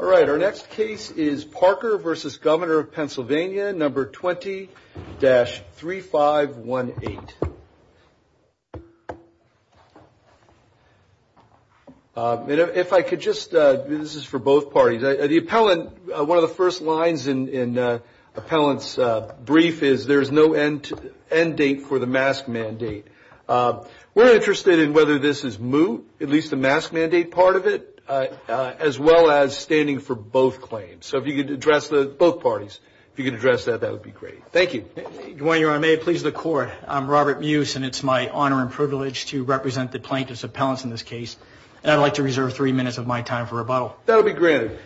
All right, our next case is Parker v. Governor of PA, number 20-3518. If I could just – this is for both parties. The appellant – one of the first lines in the appellant's brief is, there's no end date for the mask mandate. We're interested in whether this is moot, at least the mask mandate part of it, as well as standing for both claims. So if you could address the – both parties, if you could address that, that would be great. Thank you. Good morning, Your Honor. May it please the Court, I'm Robert Muse, and it's my honor and privilege to represent the plaintiff's appellants in this case. And I'd like to reserve three minutes of my time for rebuttal. That'll be granted.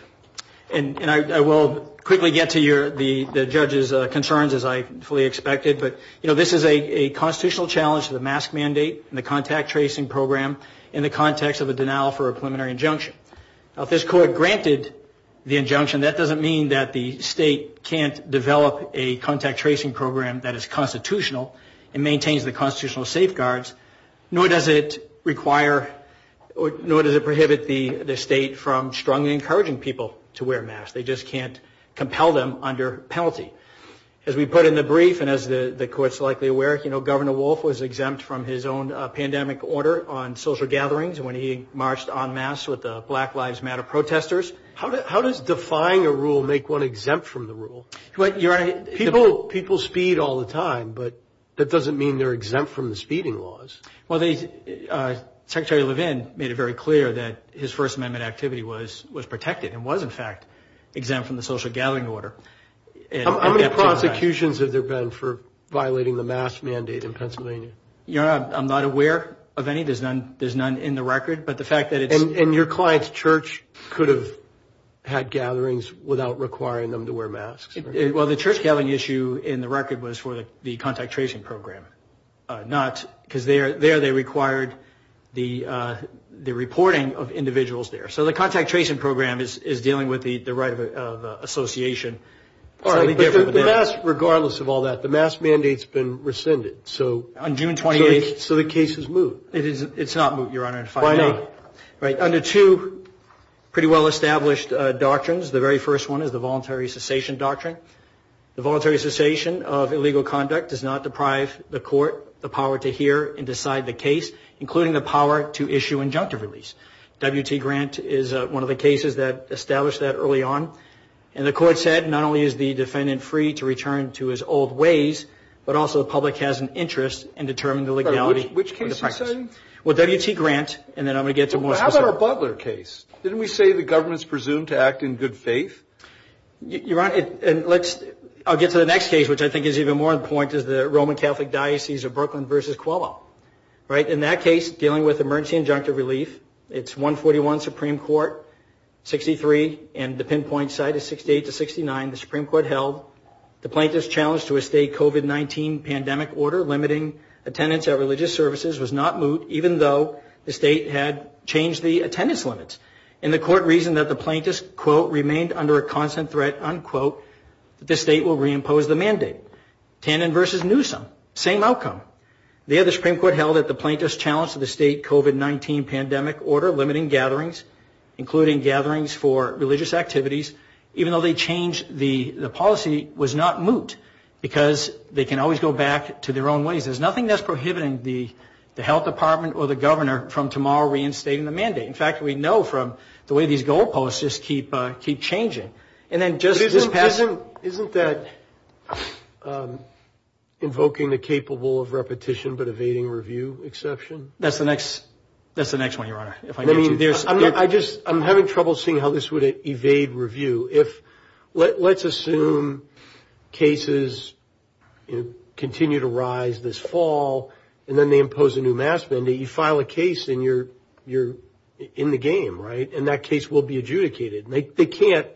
And I will quickly get to the judge's concerns, as I fully expected. But, you know, this is a constitutional challenge to the mask mandate and the contact tracing program in the context of a denial for a preliminary injunction. Now, if this Court granted the injunction, that doesn't mean that the state can't develop a contact tracing program that is constitutional and maintains the constitutional safeguards, nor does it require – nor does it prohibit the state from strongly encouraging people to wear masks. They just can't compel them under penalty. As we put in the brief, and as the Court's likely aware, Governor Wolf was exempt from his own pandemic order on social gatherings when he marched en masse with the Black Lives Matter protesters. How does defying a rule make one exempt from the rule? People speed all the time, but that doesn't mean they're exempt from the speeding laws. Well, Secretary Levin made it very clear that his First Amendment activity was protected and was, in fact, exempt from the social gathering order. How many prosecutions have there been for violating the mask mandate in Pennsylvania? Your Honor, I'm not aware of any. There's none in the record, but the fact that it's – And your client's church could have had gatherings without requiring them to wear masks? Well, the church gathering issue in the record was for the contact tracing program, not – because there they required the reporting of individuals there. So the contact tracing program is dealing with the right of association. But regardless of all that, the mask mandate's been rescinded. On June 28th. So the case is moot. It's not moot, Your Honor. Why not? Under two pretty well-established doctrines. The very first one is the voluntary cessation doctrine. The voluntary cessation of illegal conduct does not deprive the court the power to hear and decide the case, including the power to issue injunctive release. W.T. Grant is one of the cases that established that early on. And the court said not only is the defendant free to return to his old ways, but also the public has an interest in determining the legality of the practice. Which case are you saying? Well, W.T. Grant, and then I'm going to get to more specific. How about our Butler case? Didn't we say the government's presumed to act in good faith? Your Honor, and let's – I'll get to the next case, which I think is even more important, is the Roman Catholic Diocese of Brooklyn v. Coelho. In that case, dealing with emergency injunctive relief, it's 141 Supreme Court, 63, and the pinpoint site is 68 to 69. The Supreme Court held the plaintiff's challenge to a state COVID-19 pandemic order limiting attendance at religious services was not moot, even though the state had changed the attendance limits. And the court reasoned that the plaintiff's, quote, remained under a constant threat, unquote, that the state will reimpose the mandate. Tannen v. Newsom, same outcome. There, the Supreme Court held that the plaintiff's challenge to the state COVID-19 pandemic order limiting gatherings, including gatherings for religious activities, even though they changed the policy, was not moot because they can always go back to their own ways. There's nothing that's prohibiting the health department or the governor from tomorrow reinstating the mandate. In fact, we know from the way these goalposts just keep changing. Isn't that invoking the capable of repetition but evading review exception? That's the next one, Your Honor. I'm having trouble seeing how this would evade review. Let's assume cases continue to rise this fall, and then they impose a new mask mandate. You file a case, and you're in the game, right? And that case will be adjudicated. They can't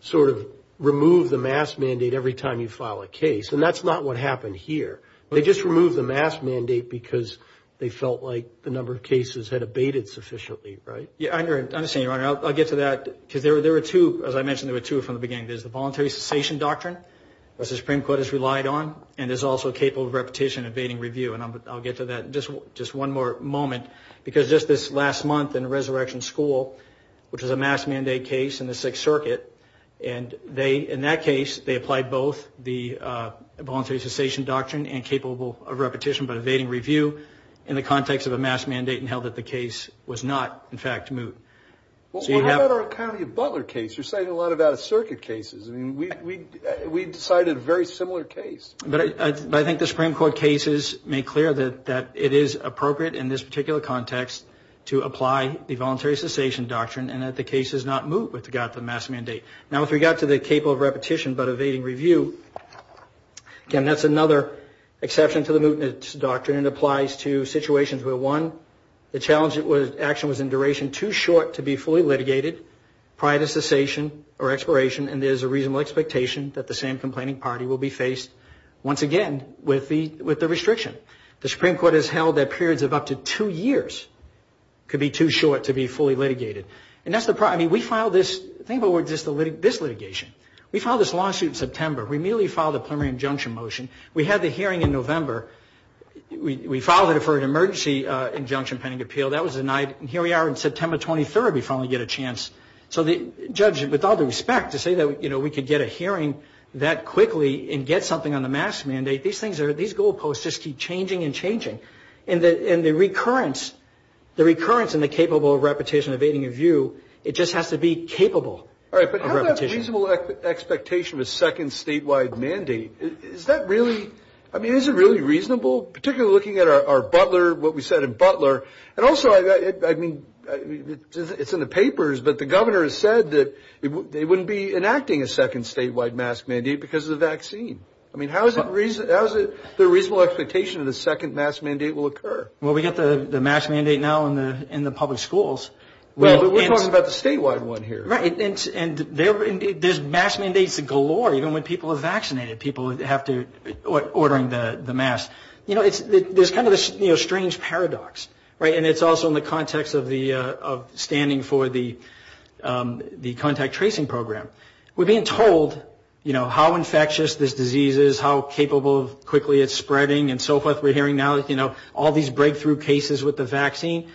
sort of remove the mask mandate every time you file a case, and that's not what happened here. They just removed the mask mandate because they felt like the number of cases had evaded sufficiently, right? Yeah, I understand, Your Honor. I'll get to that because there were two, as I mentioned, there were two from the beginning. There's the voluntary cessation doctrine, which the Supreme Court has relied on, and there's also capable of repetition evading review, and I'll get to that in just one more moment because just this last month in Resurrection School, which is a mask mandate case in the Sixth Circuit, and in that case, they applied both the voluntary cessation doctrine and capable of repetition but evading review in the context of a mask mandate and held that the case was not, in fact, moved. Well, what about our County of Butler case? You're saying a lot about circuit cases. I mean, we decided a very similar case. But I think the Supreme Court cases make clear that it is appropriate in this particular context to apply the voluntary cessation doctrine and that the case is not moved with regard to the mask mandate. Now, with regard to the capable of repetition but evading review, again, that's another exception to the mootness doctrine. It applies to situations where, one, the action was in duration too short to be fully litigated prior to cessation or expiration, and there's a reasonable expectation that the same complaining party will be faced, once again, with the restriction. The Supreme Court has held that periods of up to two years could be too short to be fully litigated. And that's the problem. I mean, we filed this litigation. We filed this lawsuit in September. We immediately filed a preliminary injunction motion. We had the hearing in November. We filed it for an emergency injunction pending appeal. That was denied. And here we are on September 23rd. We finally get a chance. So the judge, with all due respect, to say that, you know, we could get a hearing that quickly and get something on the mask mandate, these goalposts just keep changing and changing. And the recurrence in the capable of repetition evading review, it just has to be capable of repetition. All right, but how about reasonable expectation of a second statewide mandate? Is that really, I mean, is it really reasonable, particularly looking at our Butler, what we said in Butler? And also, I mean, it's in the papers, but the governor has said that they wouldn't be enacting a second statewide mask mandate because of the vaccine. I mean, how is it the reasonable expectation that a second mask mandate will occur? Well, we've got the mask mandate now in the public schools. Well, but we're talking about the statewide one here. Right, and there's mask mandates galore even when people are vaccinated, people ordering the masks. You know, there's kind of this strange paradox, right? And it's also in the context of standing for the contact tracing program. We're being told, you know, how infectious this disease is, how capable of quickly it's spreading, and so forth we're hearing now, you know, all these breakthrough cases with the vaccine.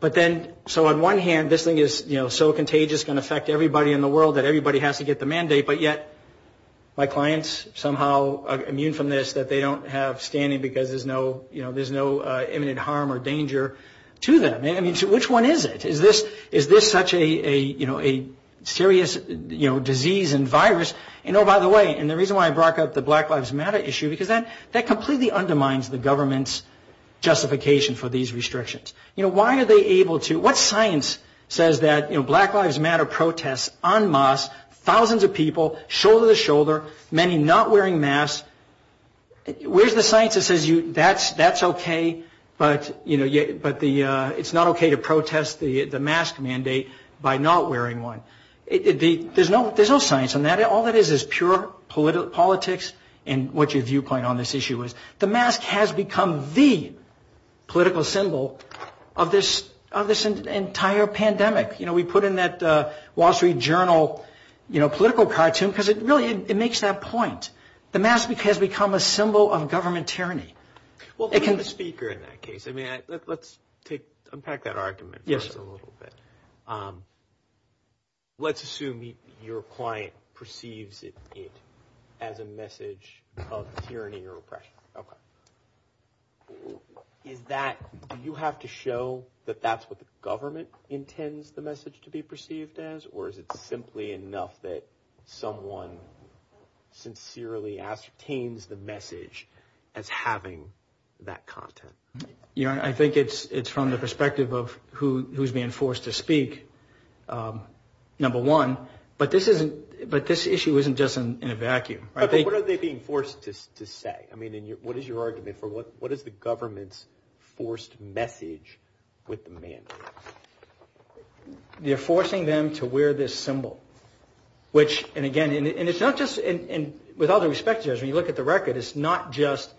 But then, so on one hand, this thing is, you know, so contagious it's going to affect everybody in the world that everybody has to get the mandate. But yet, my clients somehow immune from this that they don't have standing because there's no, you know, there's no imminent harm or danger to them. I mean, which one is it? Is this such a, you know, a serious, you know, disease and virus? And oh, by the way, and the reason why I brought up the Black Lives Matter issue, because that completely undermines the government's justification for these restrictions. You know, why are they able to, what science says that, you know, Black Lives Matter protests en masse, thousands of people shoulder to shoulder, many not wearing masks? Where's the science that says that's okay, but, you know, it's not okay to protest the mask mandate by not wearing one? There's no science on that. All that is is pure politics and what your viewpoint on this issue is. The mask has become the political symbol of this entire pandemic. You know, we put in that Wall Street Journal, you know, political cartoon because it really, it makes that point. The mask has become a symbol of government tyranny. Well, for the speaker in that case, I mean, let's unpack that argument for us a little bit. Yes, sir. Let's assume your client perceives it as a message of tyranny or oppression. Okay. Do you have to show that that's what the government intends the message to be perceived as, or is it simply enough that someone sincerely ascertains the message as having that content? You know, I think it's from the perspective of who's being forced to speak, number one. But this issue isn't just in a vacuum. What are they being forced to say? I mean, what is your argument for what is the government's forced message with the mandate? They're forcing them to wear this symbol, which, and again, and it's not just, and with all due respect to you guys, when you look at the record, it's not just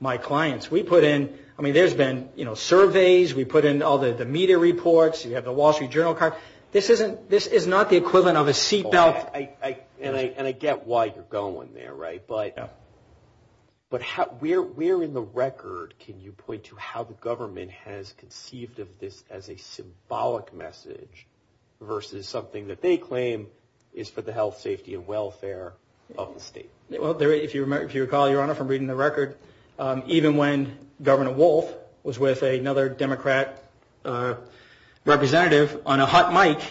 my clients. We put in, I mean, there's been, you know, surveys. We put in all the media reports. You have the Wall Street Journal card. And I get why you're going there, right? But where in the record can you point to how the government has conceived of this as a symbolic message versus something that they claim is for the health, safety, and welfare of the state? Well, if you recall, Your Honor, from reading the record, even when Governor Wolf was with another Democrat representative on a hot mic,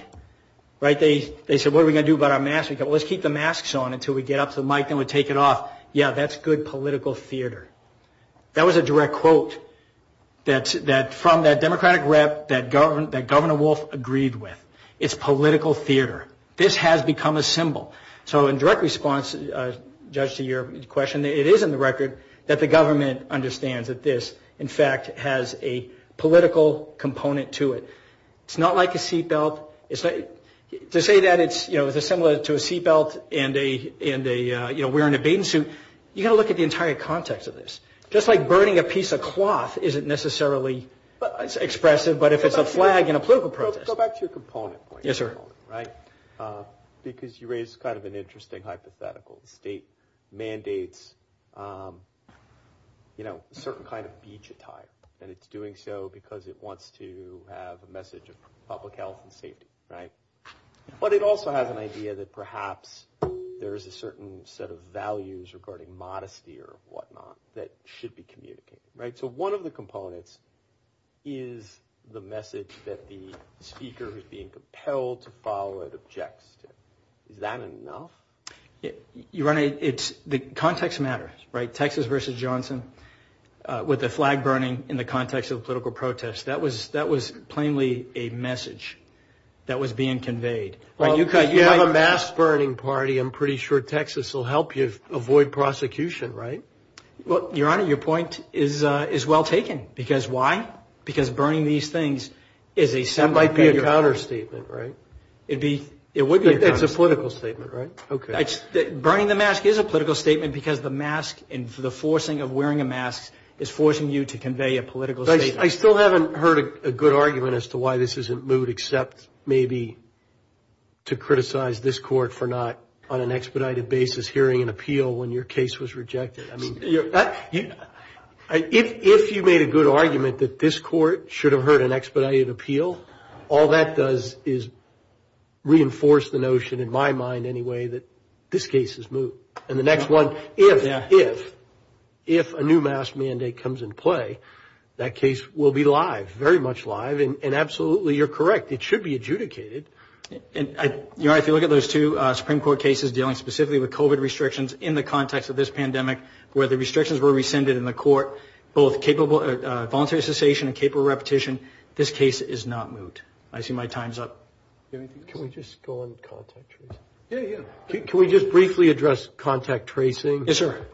right, they said, what are we going to do about our masks? We said, let's keep the masks on until we get up to the mic, then we'll take it off. Yeah, that's good political theater. That was a direct quote from that Democratic rep that Governor Wolf agreed with. It's political theater. This has become a symbol. So in direct response, Judge, to your question, it is in the record that the government understands that this, in fact, has a political component to it. It's not like a seat belt. To say that it's similar to a seat belt and wearing a bathing suit, you've got to look at the entire context of this. Just like burning a piece of cloth isn't necessarily as expressive, but if it's a flag in a political process. Go back to your component point. Yes, sir. Right? Because you raise kind of an interesting hypothetical. The state mandates a certain kind of beach attire, and it's doing so because it wants to have a message of public health and safety, right? But it also has an idea that perhaps there is a certain set of values regarding modesty or whatnot that should be communicated, right? So one of the components is the message that the speaker who's being compelled to follow it objects to. Is that enough? Your Honor, the context matters, right? The flag burning in the context of a political protest, that was plainly a message that was being conveyed. Well, if you have a mask-burning party, I'm pretty sure Texas will help you avoid prosecution, right? Well, Your Honor, your point is well taken. Because why? Because burning these things is a symbol. That might be a counter statement, right? It would be a counter statement. It's a political statement, right? Okay. Burning the mask is a political statement because the mask and the forcing of wearing a mask is forcing you to convey a political statement. I still haven't heard a good argument as to why this isn't moot, except maybe to criticize this Court for not on an expedited basis hearing an appeal when your case was rejected. If you made a good argument that this Court should have heard an expedited appeal, all that does is reinforce the notion, in my mind anyway, that this case is moot. And the next one, if a new mask mandate comes into play, that case will be live, very much live, and absolutely you're correct, it should be adjudicated. Your Honor, if you look at those two Supreme Court cases dealing specifically with COVID restrictions in the context of this pandemic, where the restrictions were rescinded in the Court, both voluntary cessation and capable repetition, this case is not moot. I see my time's up. Can we just go on contact tracing? Yeah, yeah. Can we just briefly address contact tracing? Yes, sir.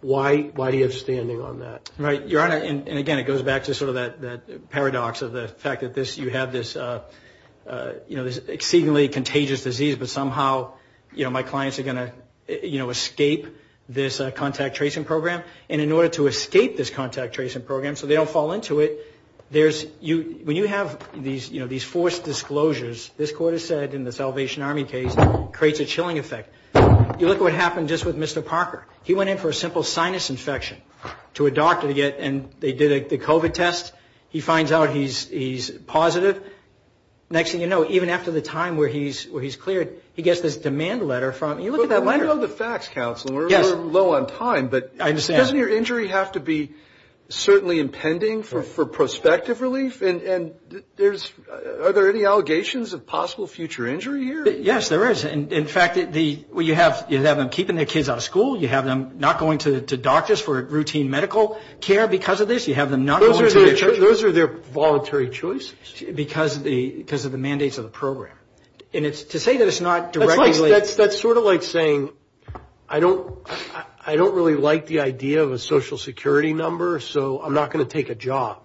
Why do you have standing on that? Right. Your Honor, and again, it goes back to sort of that paradox of the fact that you have this exceedingly contagious disease, but somehow my clients are going to escape this contact tracing program. And in order to escape this contact tracing program so they don't fall into it, when you have these forced disclosures, this Court has said in the Salvation Army case, it creates a chilling effect. You look at what happened just with Mr. Parker. He went in for a simple sinus infection to a doctor, and they did the COVID test. He finds out he's positive. Next thing you know, even after the time where he's cleared, he gets this demand letter from you. You look at that letter. But we know the facts, Counselor. We're low on time. I understand. But doesn't your injury have to be certainly impending for prospective relief? And are there any allegations of possible future injury here? Yes, there is. In fact, you have them keeping their kids out of school. You have them not going to doctors for routine medical care because of this. You have them not going to their church. Those are their voluntary choices. Because of the mandates of the program. To say that it's not directly linked. That's sort of like saying I don't really like the idea of a Social Security number, so I'm not going to take a job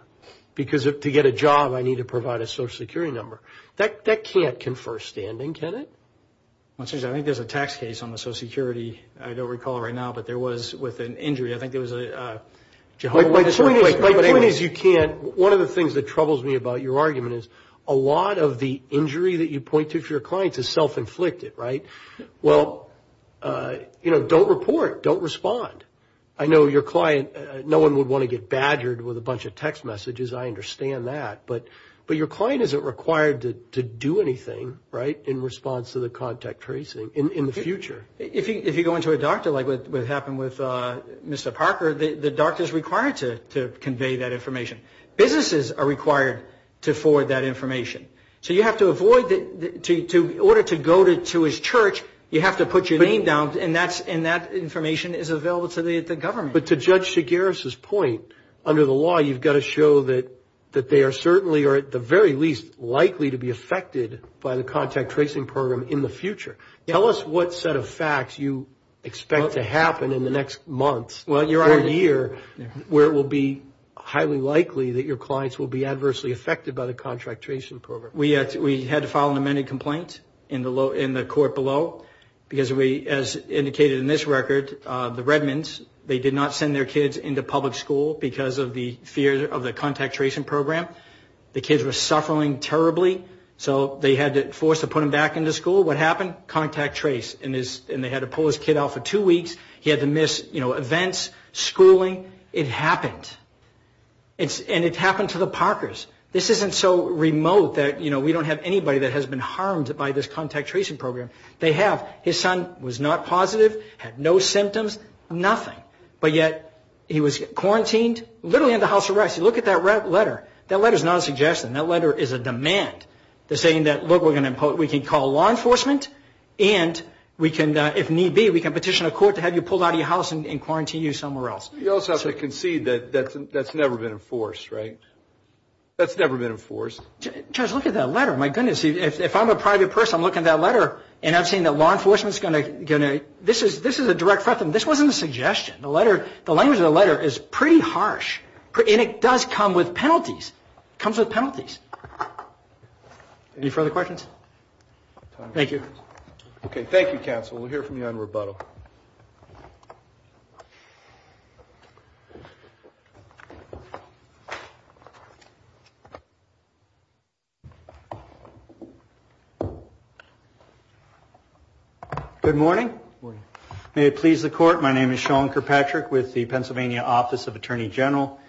because to get a job I need to provide a Social Security number. That can't confer standing, can it? I think there's a tax case on the Social Security, I don't recall right now, but there was with an injury. I think there was a Jehovah's Witness. My point is you can't. One of the things that troubles me about your argument is a lot of the injury that you point to for your clients is self-inflicted, right? Well, you know, don't report. Don't respond. I know your client, no one would want to get badgered with a bunch of text messages. I understand that. But your client isn't required to do anything, right, in response to the contact tracing in the future. If you go into a doctor, like what happened with Mr. Parker, the doctor is required to convey that information. Businesses are required to forward that information. So you have to avoid, in order to go to his church, you have to put your name down, and that information is available to the government. But to Judge Segarra's point, under the law you've got to show that they are certainly, or at the very least, likely to be affected by the contact tracing program in the future. Tell us what set of facts you expect to happen in the next month or year where it will be highly likely that your clients will be adversely affected by the contract tracing program. We had to file an amended complaint in the court below because, as indicated in this record, the Redmonds, they did not send their kids into public school because of the fear of the contact tracing program. The kids were suffering terribly, so they had to force to put them back into school. What happened? Contact trace. And they had to pull his kid out for two weeks. He had to miss events, schooling. It happened. And it happened to the Parkers. This isn't so remote that we don't have anybody that has been harmed by this contact tracing program. They have. His son was not positive, had no symptoms, nothing. But yet he was quarantined, literally under house arrest. You look at that letter. That letter is not a suggestion. That letter is a demand. They're saying that, look, we can call law enforcement and, if need be, we can petition a court to have you pulled out of your house and quarantine you somewhere else. You also have to concede that that's never been enforced, right? That's never been enforced. Judge, look at that letter. My goodness. If I'm a private person, I'm looking at that letter and I'm saying that law enforcement is going to – this is a direct threat. This wasn't a suggestion. The language of the letter is pretty harsh. And it does come with penalties. It comes with penalties. Any further questions? Thank you. Okay, thank you, counsel. We'll hear from you on rebuttal. Good morning. May it please the court, my name is Sean Kirkpatrick with the Pennsylvania Office of Attorney General.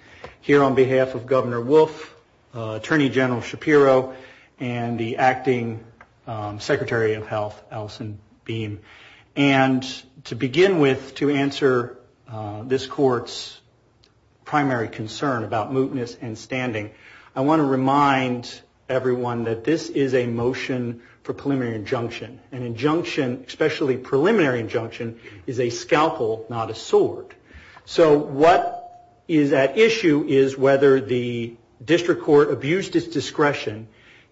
Here on behalf of Governor Wolf, Attorney General Shapiro, and the acting Secretary of Health, Alison Beam. And to begin with, to answer this court's primary concern about mootness and standing, I want to remind everyone that this is a motion for preliminary injunction. An injunction, especially preliminary injunction, is a scalpel, not a sword. So what is at issue is whether the district court abused its discretion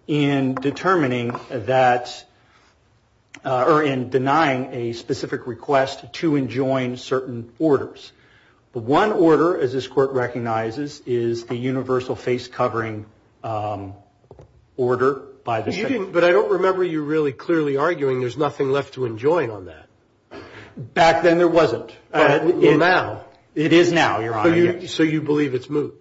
in determining that – or in denying a specific request to enjoin certain orders. The one order, as this court recognizes, is the universal face covering order by the – But I don't remember you really clearly arguing there's nothing left to enjoin on that. Back then there wasn't. Well, now. It is now, Your Honor, yes. So you believe it's moot?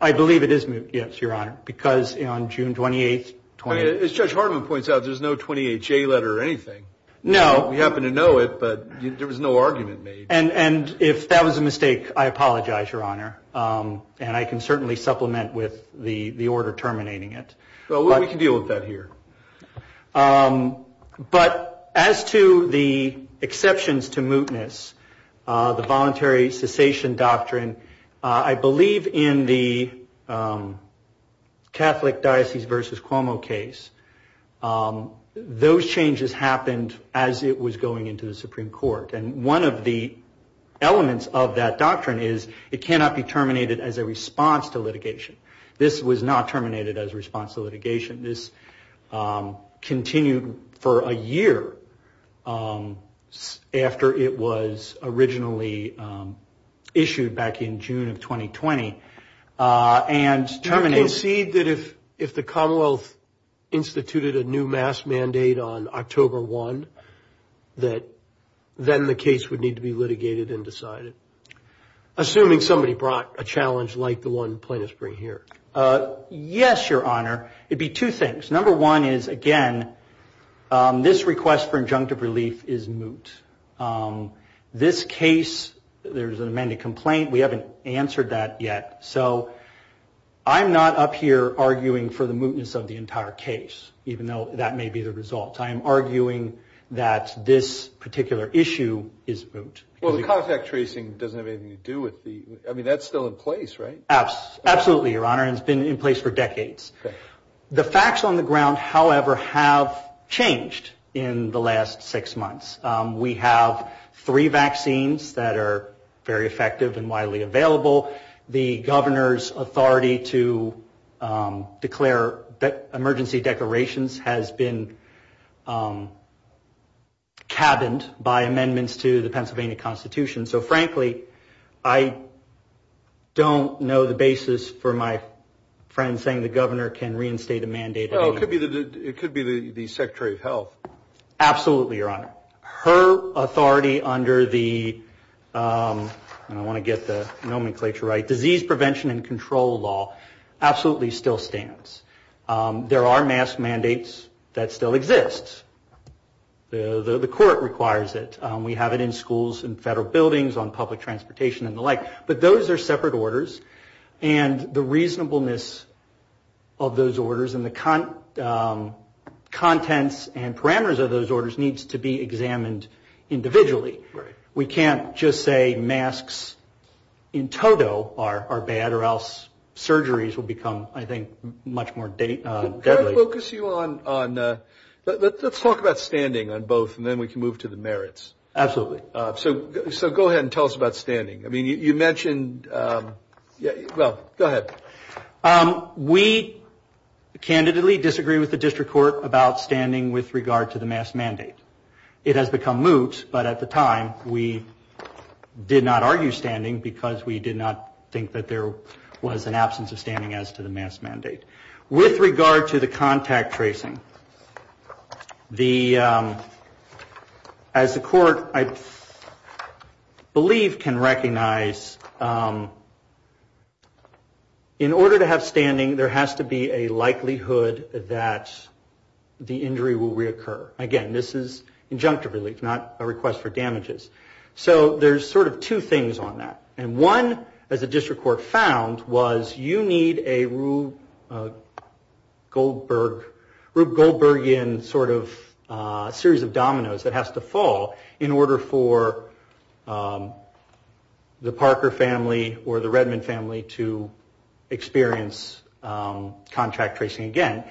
I believe it is moot, yes, Your Honor, because on June 28th – As Judge Hartman points out, there's no 28J letter or anything. No. We happen to know it, but there was no argument made. And if that was a mistake, I apologize, Your Honor. And I can certainly supplement with the order terminating it. Well, we can deal with that here. But as to the exceptions to mootness, the voluntary cessation doctrine, I believe in the Catholic Diocese v. Cuomo case, those changes happened as it was going into the Supreme Court. And one of the elements of that doctrine is it cannot be terminated as a response to litigation. This was not terminated as a response to litigation. This continued for a year after it was originally issued back in June of 2020 and terminated. Do you concede that if the Commonwealth instituted a new mass mandate on October 1, that then the case would need to be litigated and decided, assuming somebody brought a challenge like the one plaintiffs bring here? Yes, Your Honor. It would be two things. Number one is, again, this request for injunctive relief is moot. This case, there's an amended complaint. We haven't answered that yet. So I'm not up here arguing for the mootness of the entire case, even though that may be the result. I am arguing that this particular issue is moot. Well, the contact tracing doesn't have anything to do with the – I mean, that's still in place, right? Absolutely, Your Honor. It's been in place for decades. The facts on the ground, however, have changed in the last six months. We have three vaccines that are very effective and widely available. The governor's authority to declare emergency declarations has been cabined by amendments to the Pennsylvania Constitution. So, frankly, I don't know the basis for my friend saying the governor can reinstate a mandate. It could be the Secretary of Health. Absolutely, Your Honor. Her authority under the – and I want to get the nomenclature right – disease prevention and control law absolutely still stands. There are mask mandates that still exist. The court requires it. We have it in schools and federal buildings, on public transportation and the like. But those are separate orders, and the reasonableness of those orders and the contents and parameters of those orders needs to be examined individually. We can't just say masks in toto are bad or else surgeries will become, I think, much more deadly. Can I focus you on – let's talk about standing on both, and then we can move to the merits. Absolutely. So go ahead and tell us about standing. I mean, you mentioned – well, go ahead. We candidly disagree with the district court about standing with regard to the mask mandate. It has become moot, but at the time we did not argue standing because we did not think that there was an absence of standing as to the mask mandate. With regard to the contact tracing, as the court, I believe, can recognize, in order to have standing there has to be a likelihood that the injury will reoccur. Again, this is injunctive relief, not a request for damages. So there's sort of two things on that. And one, as the district court found, was you need a Rube Goldbergian sort of series of dominoes that has to fall in order for the Parker family or the Redmond family to experience contract tracing again.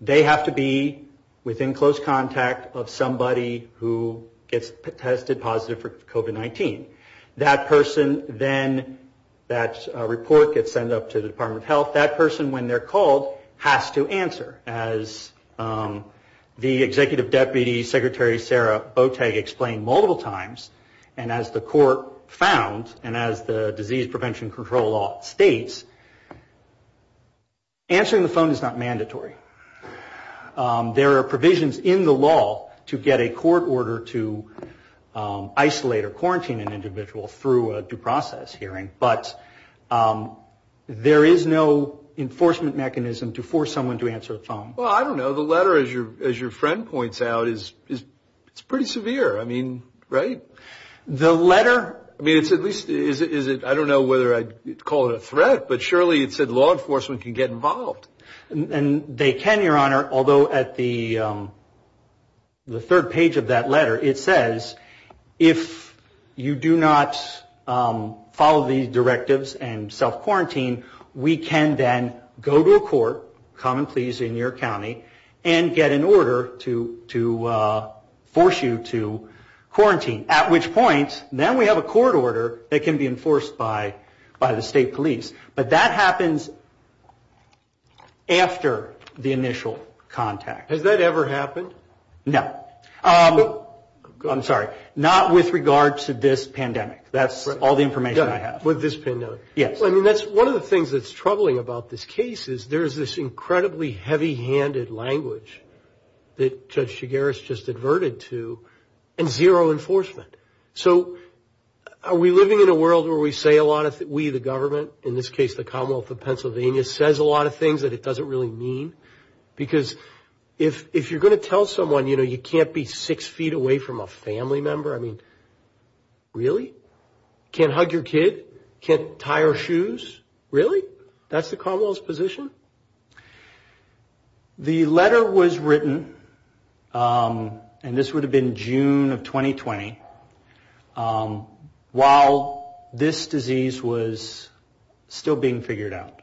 They have to be within close contact of somebody who gets tested positive for COVID-19. That person then – that report gets sent up to the Department of Health. That person, when they're called, has to answer. As the Executive Deputy Secretary, Sarah Boteg, explained multiple times, and as the court found and as the disease prevention control law states, answering the phone is not mandatory. There are provisions in the law to get a court order to isolate or quarantine an individual through a due process hearing, but there is no enforcement mechanism to force someone to answer a phone. Well, I don't know. The letter, as your friend points out, is pretty severe. I mean, right? The letter – I mean, it's at least – I don't know whether I'd call it a threat, but surely it said law enforcement can get involved. And they can, Your Honor, although at the third page of that letter, it says if you do not follow these directives and self-quarantine, we can then go to a court, common pleas in your county, and get an order to force you to quarantine, at which point now we have a court order that can be enforced by the state police. But that happens after the initial contact. Has that ever happened? No. I'm sorry. Not with regard to this pandemic. That's all the information I have. With this pandemic? Yes. Well, I mean, that's one of the things that's troubling about this case is there's this incredibly heavy-handed language that Judge Shigaris just adverted to, and zero enforcement. So are we living in a world where we say a lot of – we, the government, in this case the Commonwealth of Pennsylvania, says a lot of things that it doesn't really mean? Because if you're going to tell someone, you know, you can't be six feet away from a family member, I mean, really? Can't hug your kid? Can't tie her shoes? Really? That's the Commonwealth's position? The letter was written, and this would have been June of 2020, while this disease was still being figured out.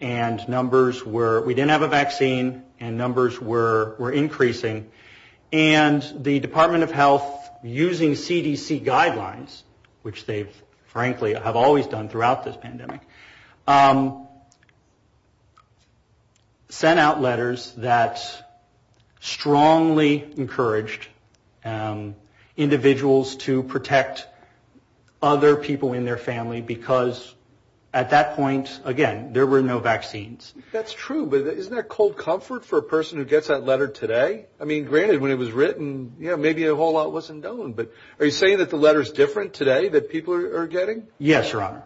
And numbers were – we didn't have a vaccine, and numbers were increasing. And the Department of Health, using CDC guidelines, which they, frankly, have always done throughout this pandemic, sent out letters that strongly encouraged individuals to protect other people in their family, because at that point, again, there were no vaccines. That's true, but isn't that cold comfort for a person who gets that letter today? I mean, granted, when it was written, yeah, maybe a whole lot wasn't known, but are you saying that the letter's different today, that people are getting? Yes, Your Honor.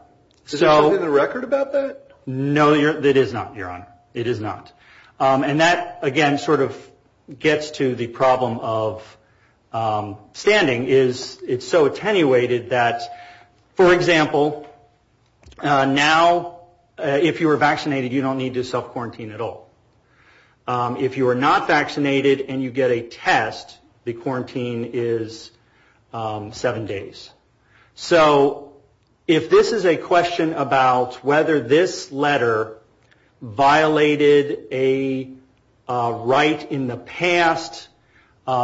Is there something in the record about that? No, there is not, Your Honor. It is not. And that, again, sort of gets to the problem of standing is it's so attenuated that, for example, now, if you are vaccinated, you don't need to self-quarantine at all. If you are not vaccinated and you get a test, the quarantine is seven days. So if this is a question about whether this letter violated a right in the past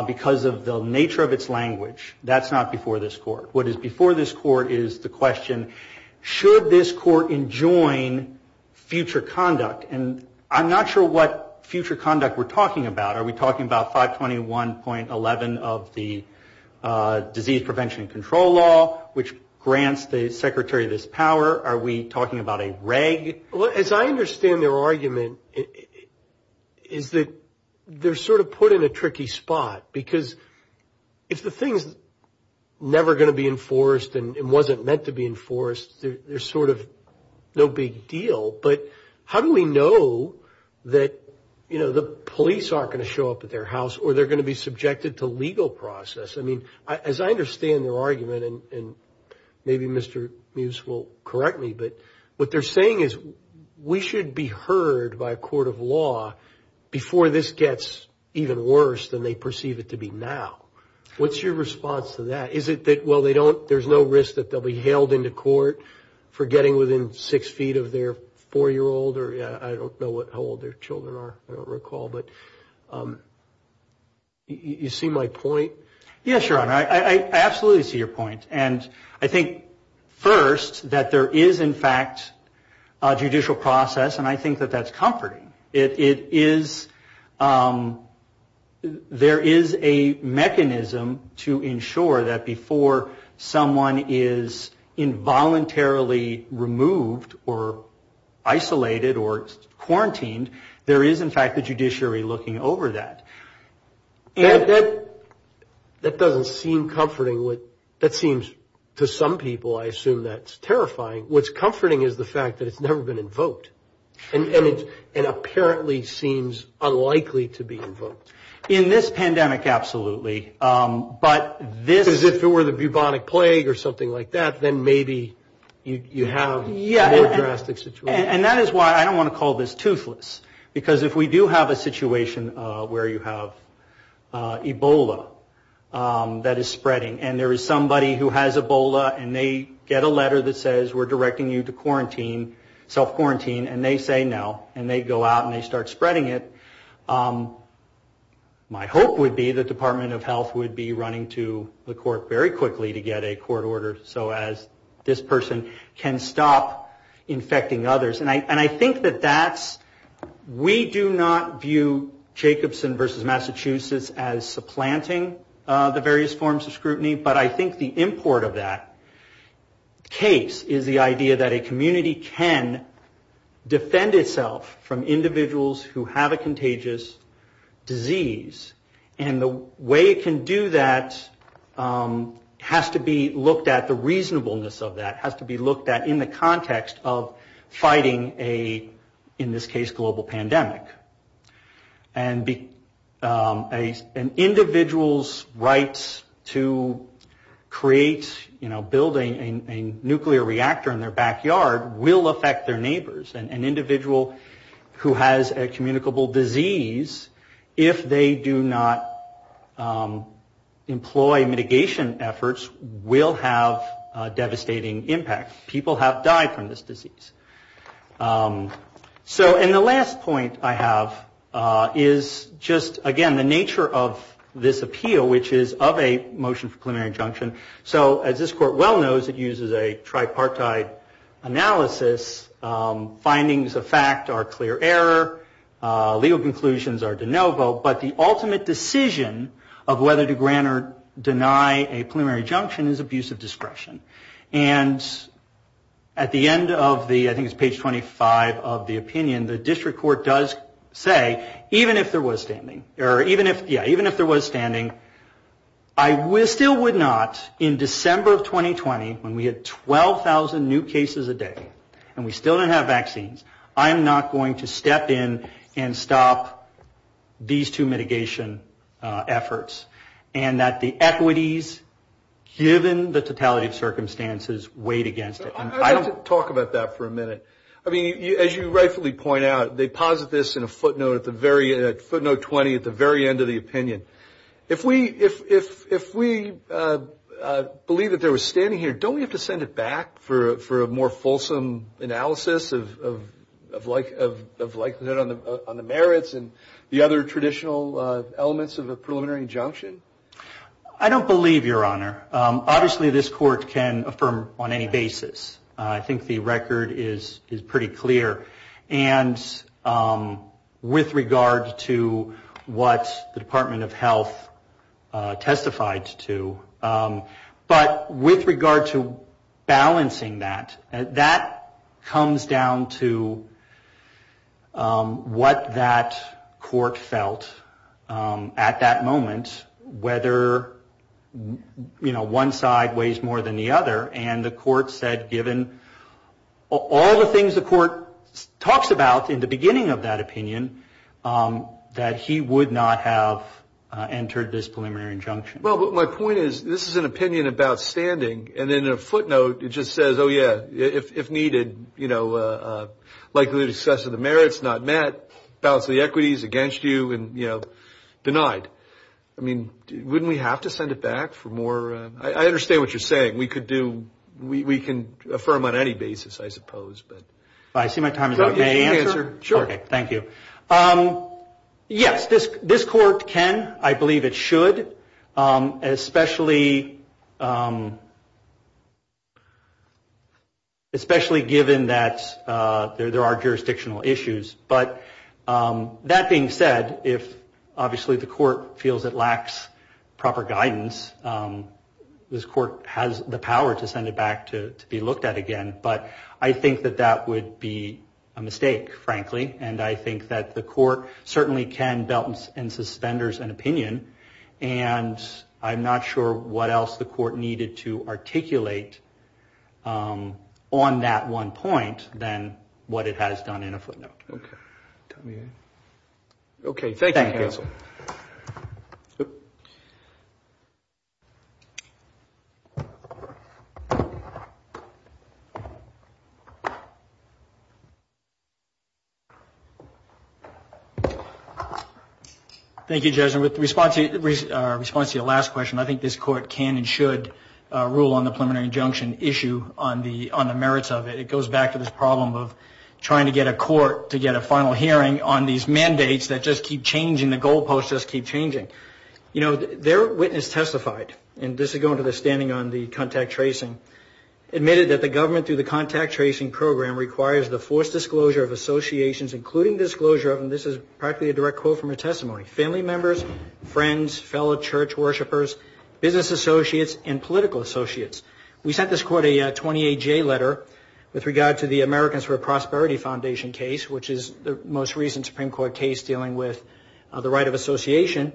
because of the nature of its language, that's not before this Court. What is before this Court is the question, should this Court enjoin future conduct? And I'm not sure what future conduct we're talking about. Are we talking about 521.11 of the Disease Prevention and Control Law, which grants the Secretary this power? Are we talking about a reg? As I understand their argument, is that they're sort of put in a tricky spot, because if the thing's never going to be enforced and wasn't meant to be enforced, there's sort of no big deal. But how do we know that, you know, the police aren't going to show up at their house or they're going to be subjected to legal process? I mean, as I understand their argument, and maybe Mr. Mews will correct me, but what they're saying is we should be heard by a court of law before this gets even worse than they perceive it to be now. What's your response to that? Is it that, well, there's no risk that they'll be hailed into court for getting within six feet of their four-year-old, or I don't know how old their children are, I don't recall, but you see my point? Yes, Your Honor. I absolutely see your point. And I think, first, that there is, in fact, a judicial process, and I think that that's comforting. There is a mechanism to ensure that before someone is involuntarily removed or isolated or quarantined, there is, in fact, a judiciary looking over that. That doesn't seem comforting. That seems to some people, I assume, that's terrifying. What's comforting is the fact that it's never been invoked and apparently seems unlikely to be invoked. In this pandemic, absolutely, but this is if it were the bubonic plague or something like that, then maybe you have a more drastic situation. And that is why I don't want to call this toothless, because if we do have a situation where you have Ebola that is spreading and there is somebody who has Ebola and they get a letter that says, we're directing you to quarantine, self-quarantine, and they say no, and they go out and they start spreading it, my hope would be the Department of Health would be running to the court very quickly to get a court order so as this person can stop infecting others. And I think that that's, we do not view Jacobson versus Massachusetts as supplanting the various forms of scrutiny, but I think the import of that case is the idea that a community can defend itself from individuals who have a contagious disease. And the way it can do that has to be looked at, the reasonableness of that has to be looked at in the context of fighting a, in this case, global pandemic. And an individual's rights to create, you know, building a nuclear reactor in their backyard will affect their neighbors. And an individual who has a communicable disease, if they do not employ mitigation efforts, will have a devastating impact. People have died from this disease. So, and the last point I have is just, again, the nature of this appeal, which is of a motion for preliminary injunction. So as this court well knows, it uses a tripartite analysis. Findings of fact are clear error. Legal conclusions are de novo. But the ultimate decision of whether to grant or deny a preliminary injunction is abuse of discretion. And at the end of the, I think it's page 25 of the opinion, the district court does say, even if there was standing, or even if, yeah, even if there was standing, I still would not, in December of 2020, when we had 12,000 new cases a day and we still didn't have vaccines, I am not going to step in and stop these two mitigation efforts. And that the equities, given the totality of circumstances, weighed against it. I'd like to talk about that for a minute. I mean, as you rightfully point out, they posit this in a footnote at the very end, footnote 20, at the very end of the opinion. If we believe that there was standing here, don't we have to send it back for a more fulsome analysis of likelihood on the merits and the other traditional elements of a preliminary injunction? I don't believe, Your Honor. Obviously, this court can affirm on any basis. I think the record is pretty clear. And with regard to what the Department of Health testified to, but with regard to balancing that, that comes down to what that court felt at that moment, whether, you know, one side weighs more than the other. And the court said, given all the things the court talks about in the beginning of that opinion, that he would not have entered this preliminary injunction. Well, but my point is, this is an opinion about standing. And in a footnote, it just says, oh, yeah, if needed, you know, likelihood of success of the merits not met, balance of the equities against you, and, you know, denied. I mean, wouldn't we have to send it back for more? I understand what you're saying. We could do, we can affirm on any basis, I suppose. I see my time is up. May I answer? Sure. Okay. Thank you. Yes, this court can, I believe it should, especially given that there are jurisdictional issues. But that being said, if obviously the court feels it lacks proper guidance, this court has the power to send it back to be looked at again. But I think that that would be a mistake, frankly. And I think that the court certainly can belt and suspenders an opinion. And I'm not sure what else the court needed to articulate on that one point than what it has done in a footnote. Okay. Okay. Thank you. Thank you, Judge. And with response to your last question, I think this court can and should rule on the preliminary injunction issue on the merits of it. It goes back to this problem of trying to get a court to get a final hearing on these mandates that just keep changing, the goalposts just keep changing. You know, their witness testified, and this is going to the standing on the contact tracing, admitted that the government through the contact tracing program requires the forced disclosure of associations, including disclosure of, and this is practically a direct quote from her testimony, family members, friends, fellow church worshipers, business associates, and political associates. We sent this court a 28-J letter with regard to the Americans for Prosperity Foundation case, which is the most recent Supreme Court case dealing with the right of association.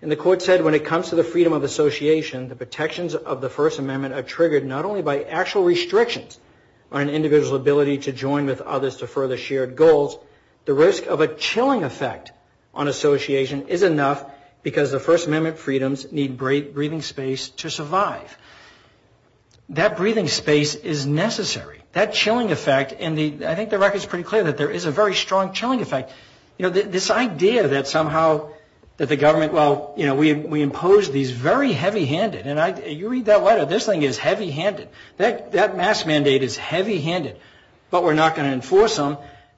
And the court said when it comes to the freedom of association, the protections of the First Amendment are triggered not only by actual restrictions on an individual's ability to join with others to further shared goals, the risk of a chilling effect on association is enough because the First Amendment freedoms need breathing space to survive. That breathing space is necessary. That chilling effect, and I think the record is pretty clear that there is a very strong chilling effect. You know, this idea that somehow that the government, well, you know, we impose these very heavy-handed, and you read that letter, this thing is heavy-handed. That mask mandate is heavy-handed, but we're not going to enforce them.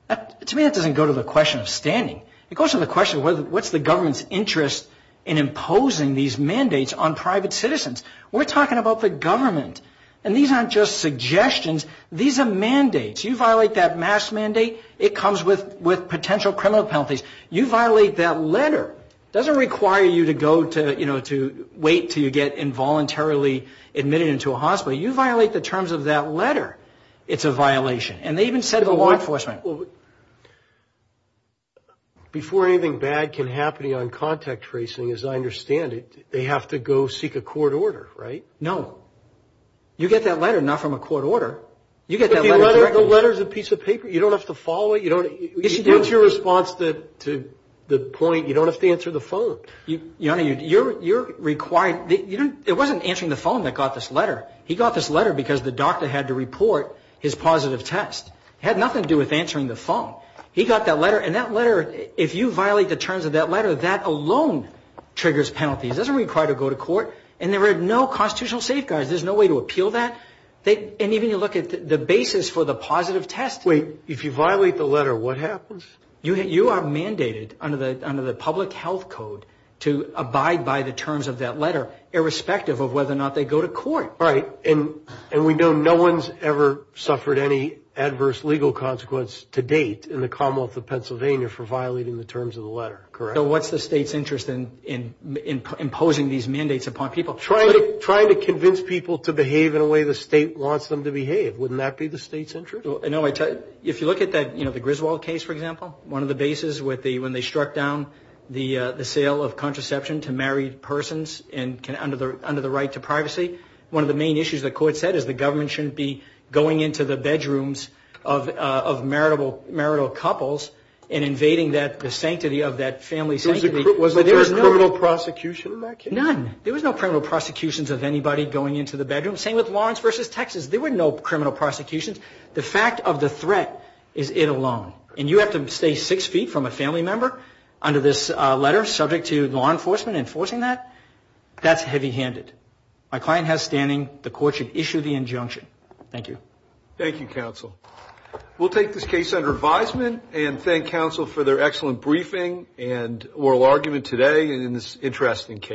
To me, that doesn't go to the question of standing. It goes to the question of what's the government's interest in imposing these mandates on private citizens. We're talking about the government. And these aren't just suggestions. These are mandates. You violate that mask mandate, it comes with potential criminal penalties. You violate that letter, it doesn't require you to go to, you know, to wait until you get involuntarily admitted into a hospital. You violate the terms of that letter, it's a violation. And they even said to the law enforcement. Well, before anything bad can happen on contact tracing, as I understand it, they have to go seek a court order, right? No. You get that letter not from a court order. You get that letter directly. But the letter is a piece of paper. You don't have to follow it. You don't. It's your response to the point, you don't have to answer the phone. You're required. It wasn't answering the phone that got this letter. He got this letter because the doctor had to report his positive test. It had nothing to do with answering the phone. He got that letter. And that letter, if you violate the terms of that letter, that alone triggers penalties. It doesn't require you to go to court. And there are no constitutional safeguards. There's no way to appeal that. And even you look at the basis for the positive test. Wait, if you violate the letter, what happens? You are mandated under the public health code to abide by the terms of that letter, irrespective of whether or not they go to court. Right. And we know no one's ever suffered any adverse legal consequence to date in the Commonwealth of Pennsylvania for violating the terms of the letter, correct? So what's the state's interest in imposing these mandates upon people? Trying to convince people to behave in a way the state wants them to behave. Wouldn't that be the state's interest? No, if you look at the Griswold case, for example, one of the bases when they struck down the sale of contraception to married persons under the right to privacy, one of the main issues the court said is the government shouldn't be going into the bedrooms of marital couples and invading the sanctity of that family's sanctity. Was there a criminal prosecution in that case? None. There was no criminal prosecutions of anybody going into the bedroom. Same with Lawrence v. Texas. There were no criminal prosecutions. The fact of the threat is it alone. And you have to stay six feet from a family member under this letter, subject to law enforcement enforcing that, that's heavy-handed. My client has standing. The court should issue the injunction. Thank you. Thank you, counsel. We'll take this case under advisement and thank counsel for their excellent briefing and oral argument today in this interesting case.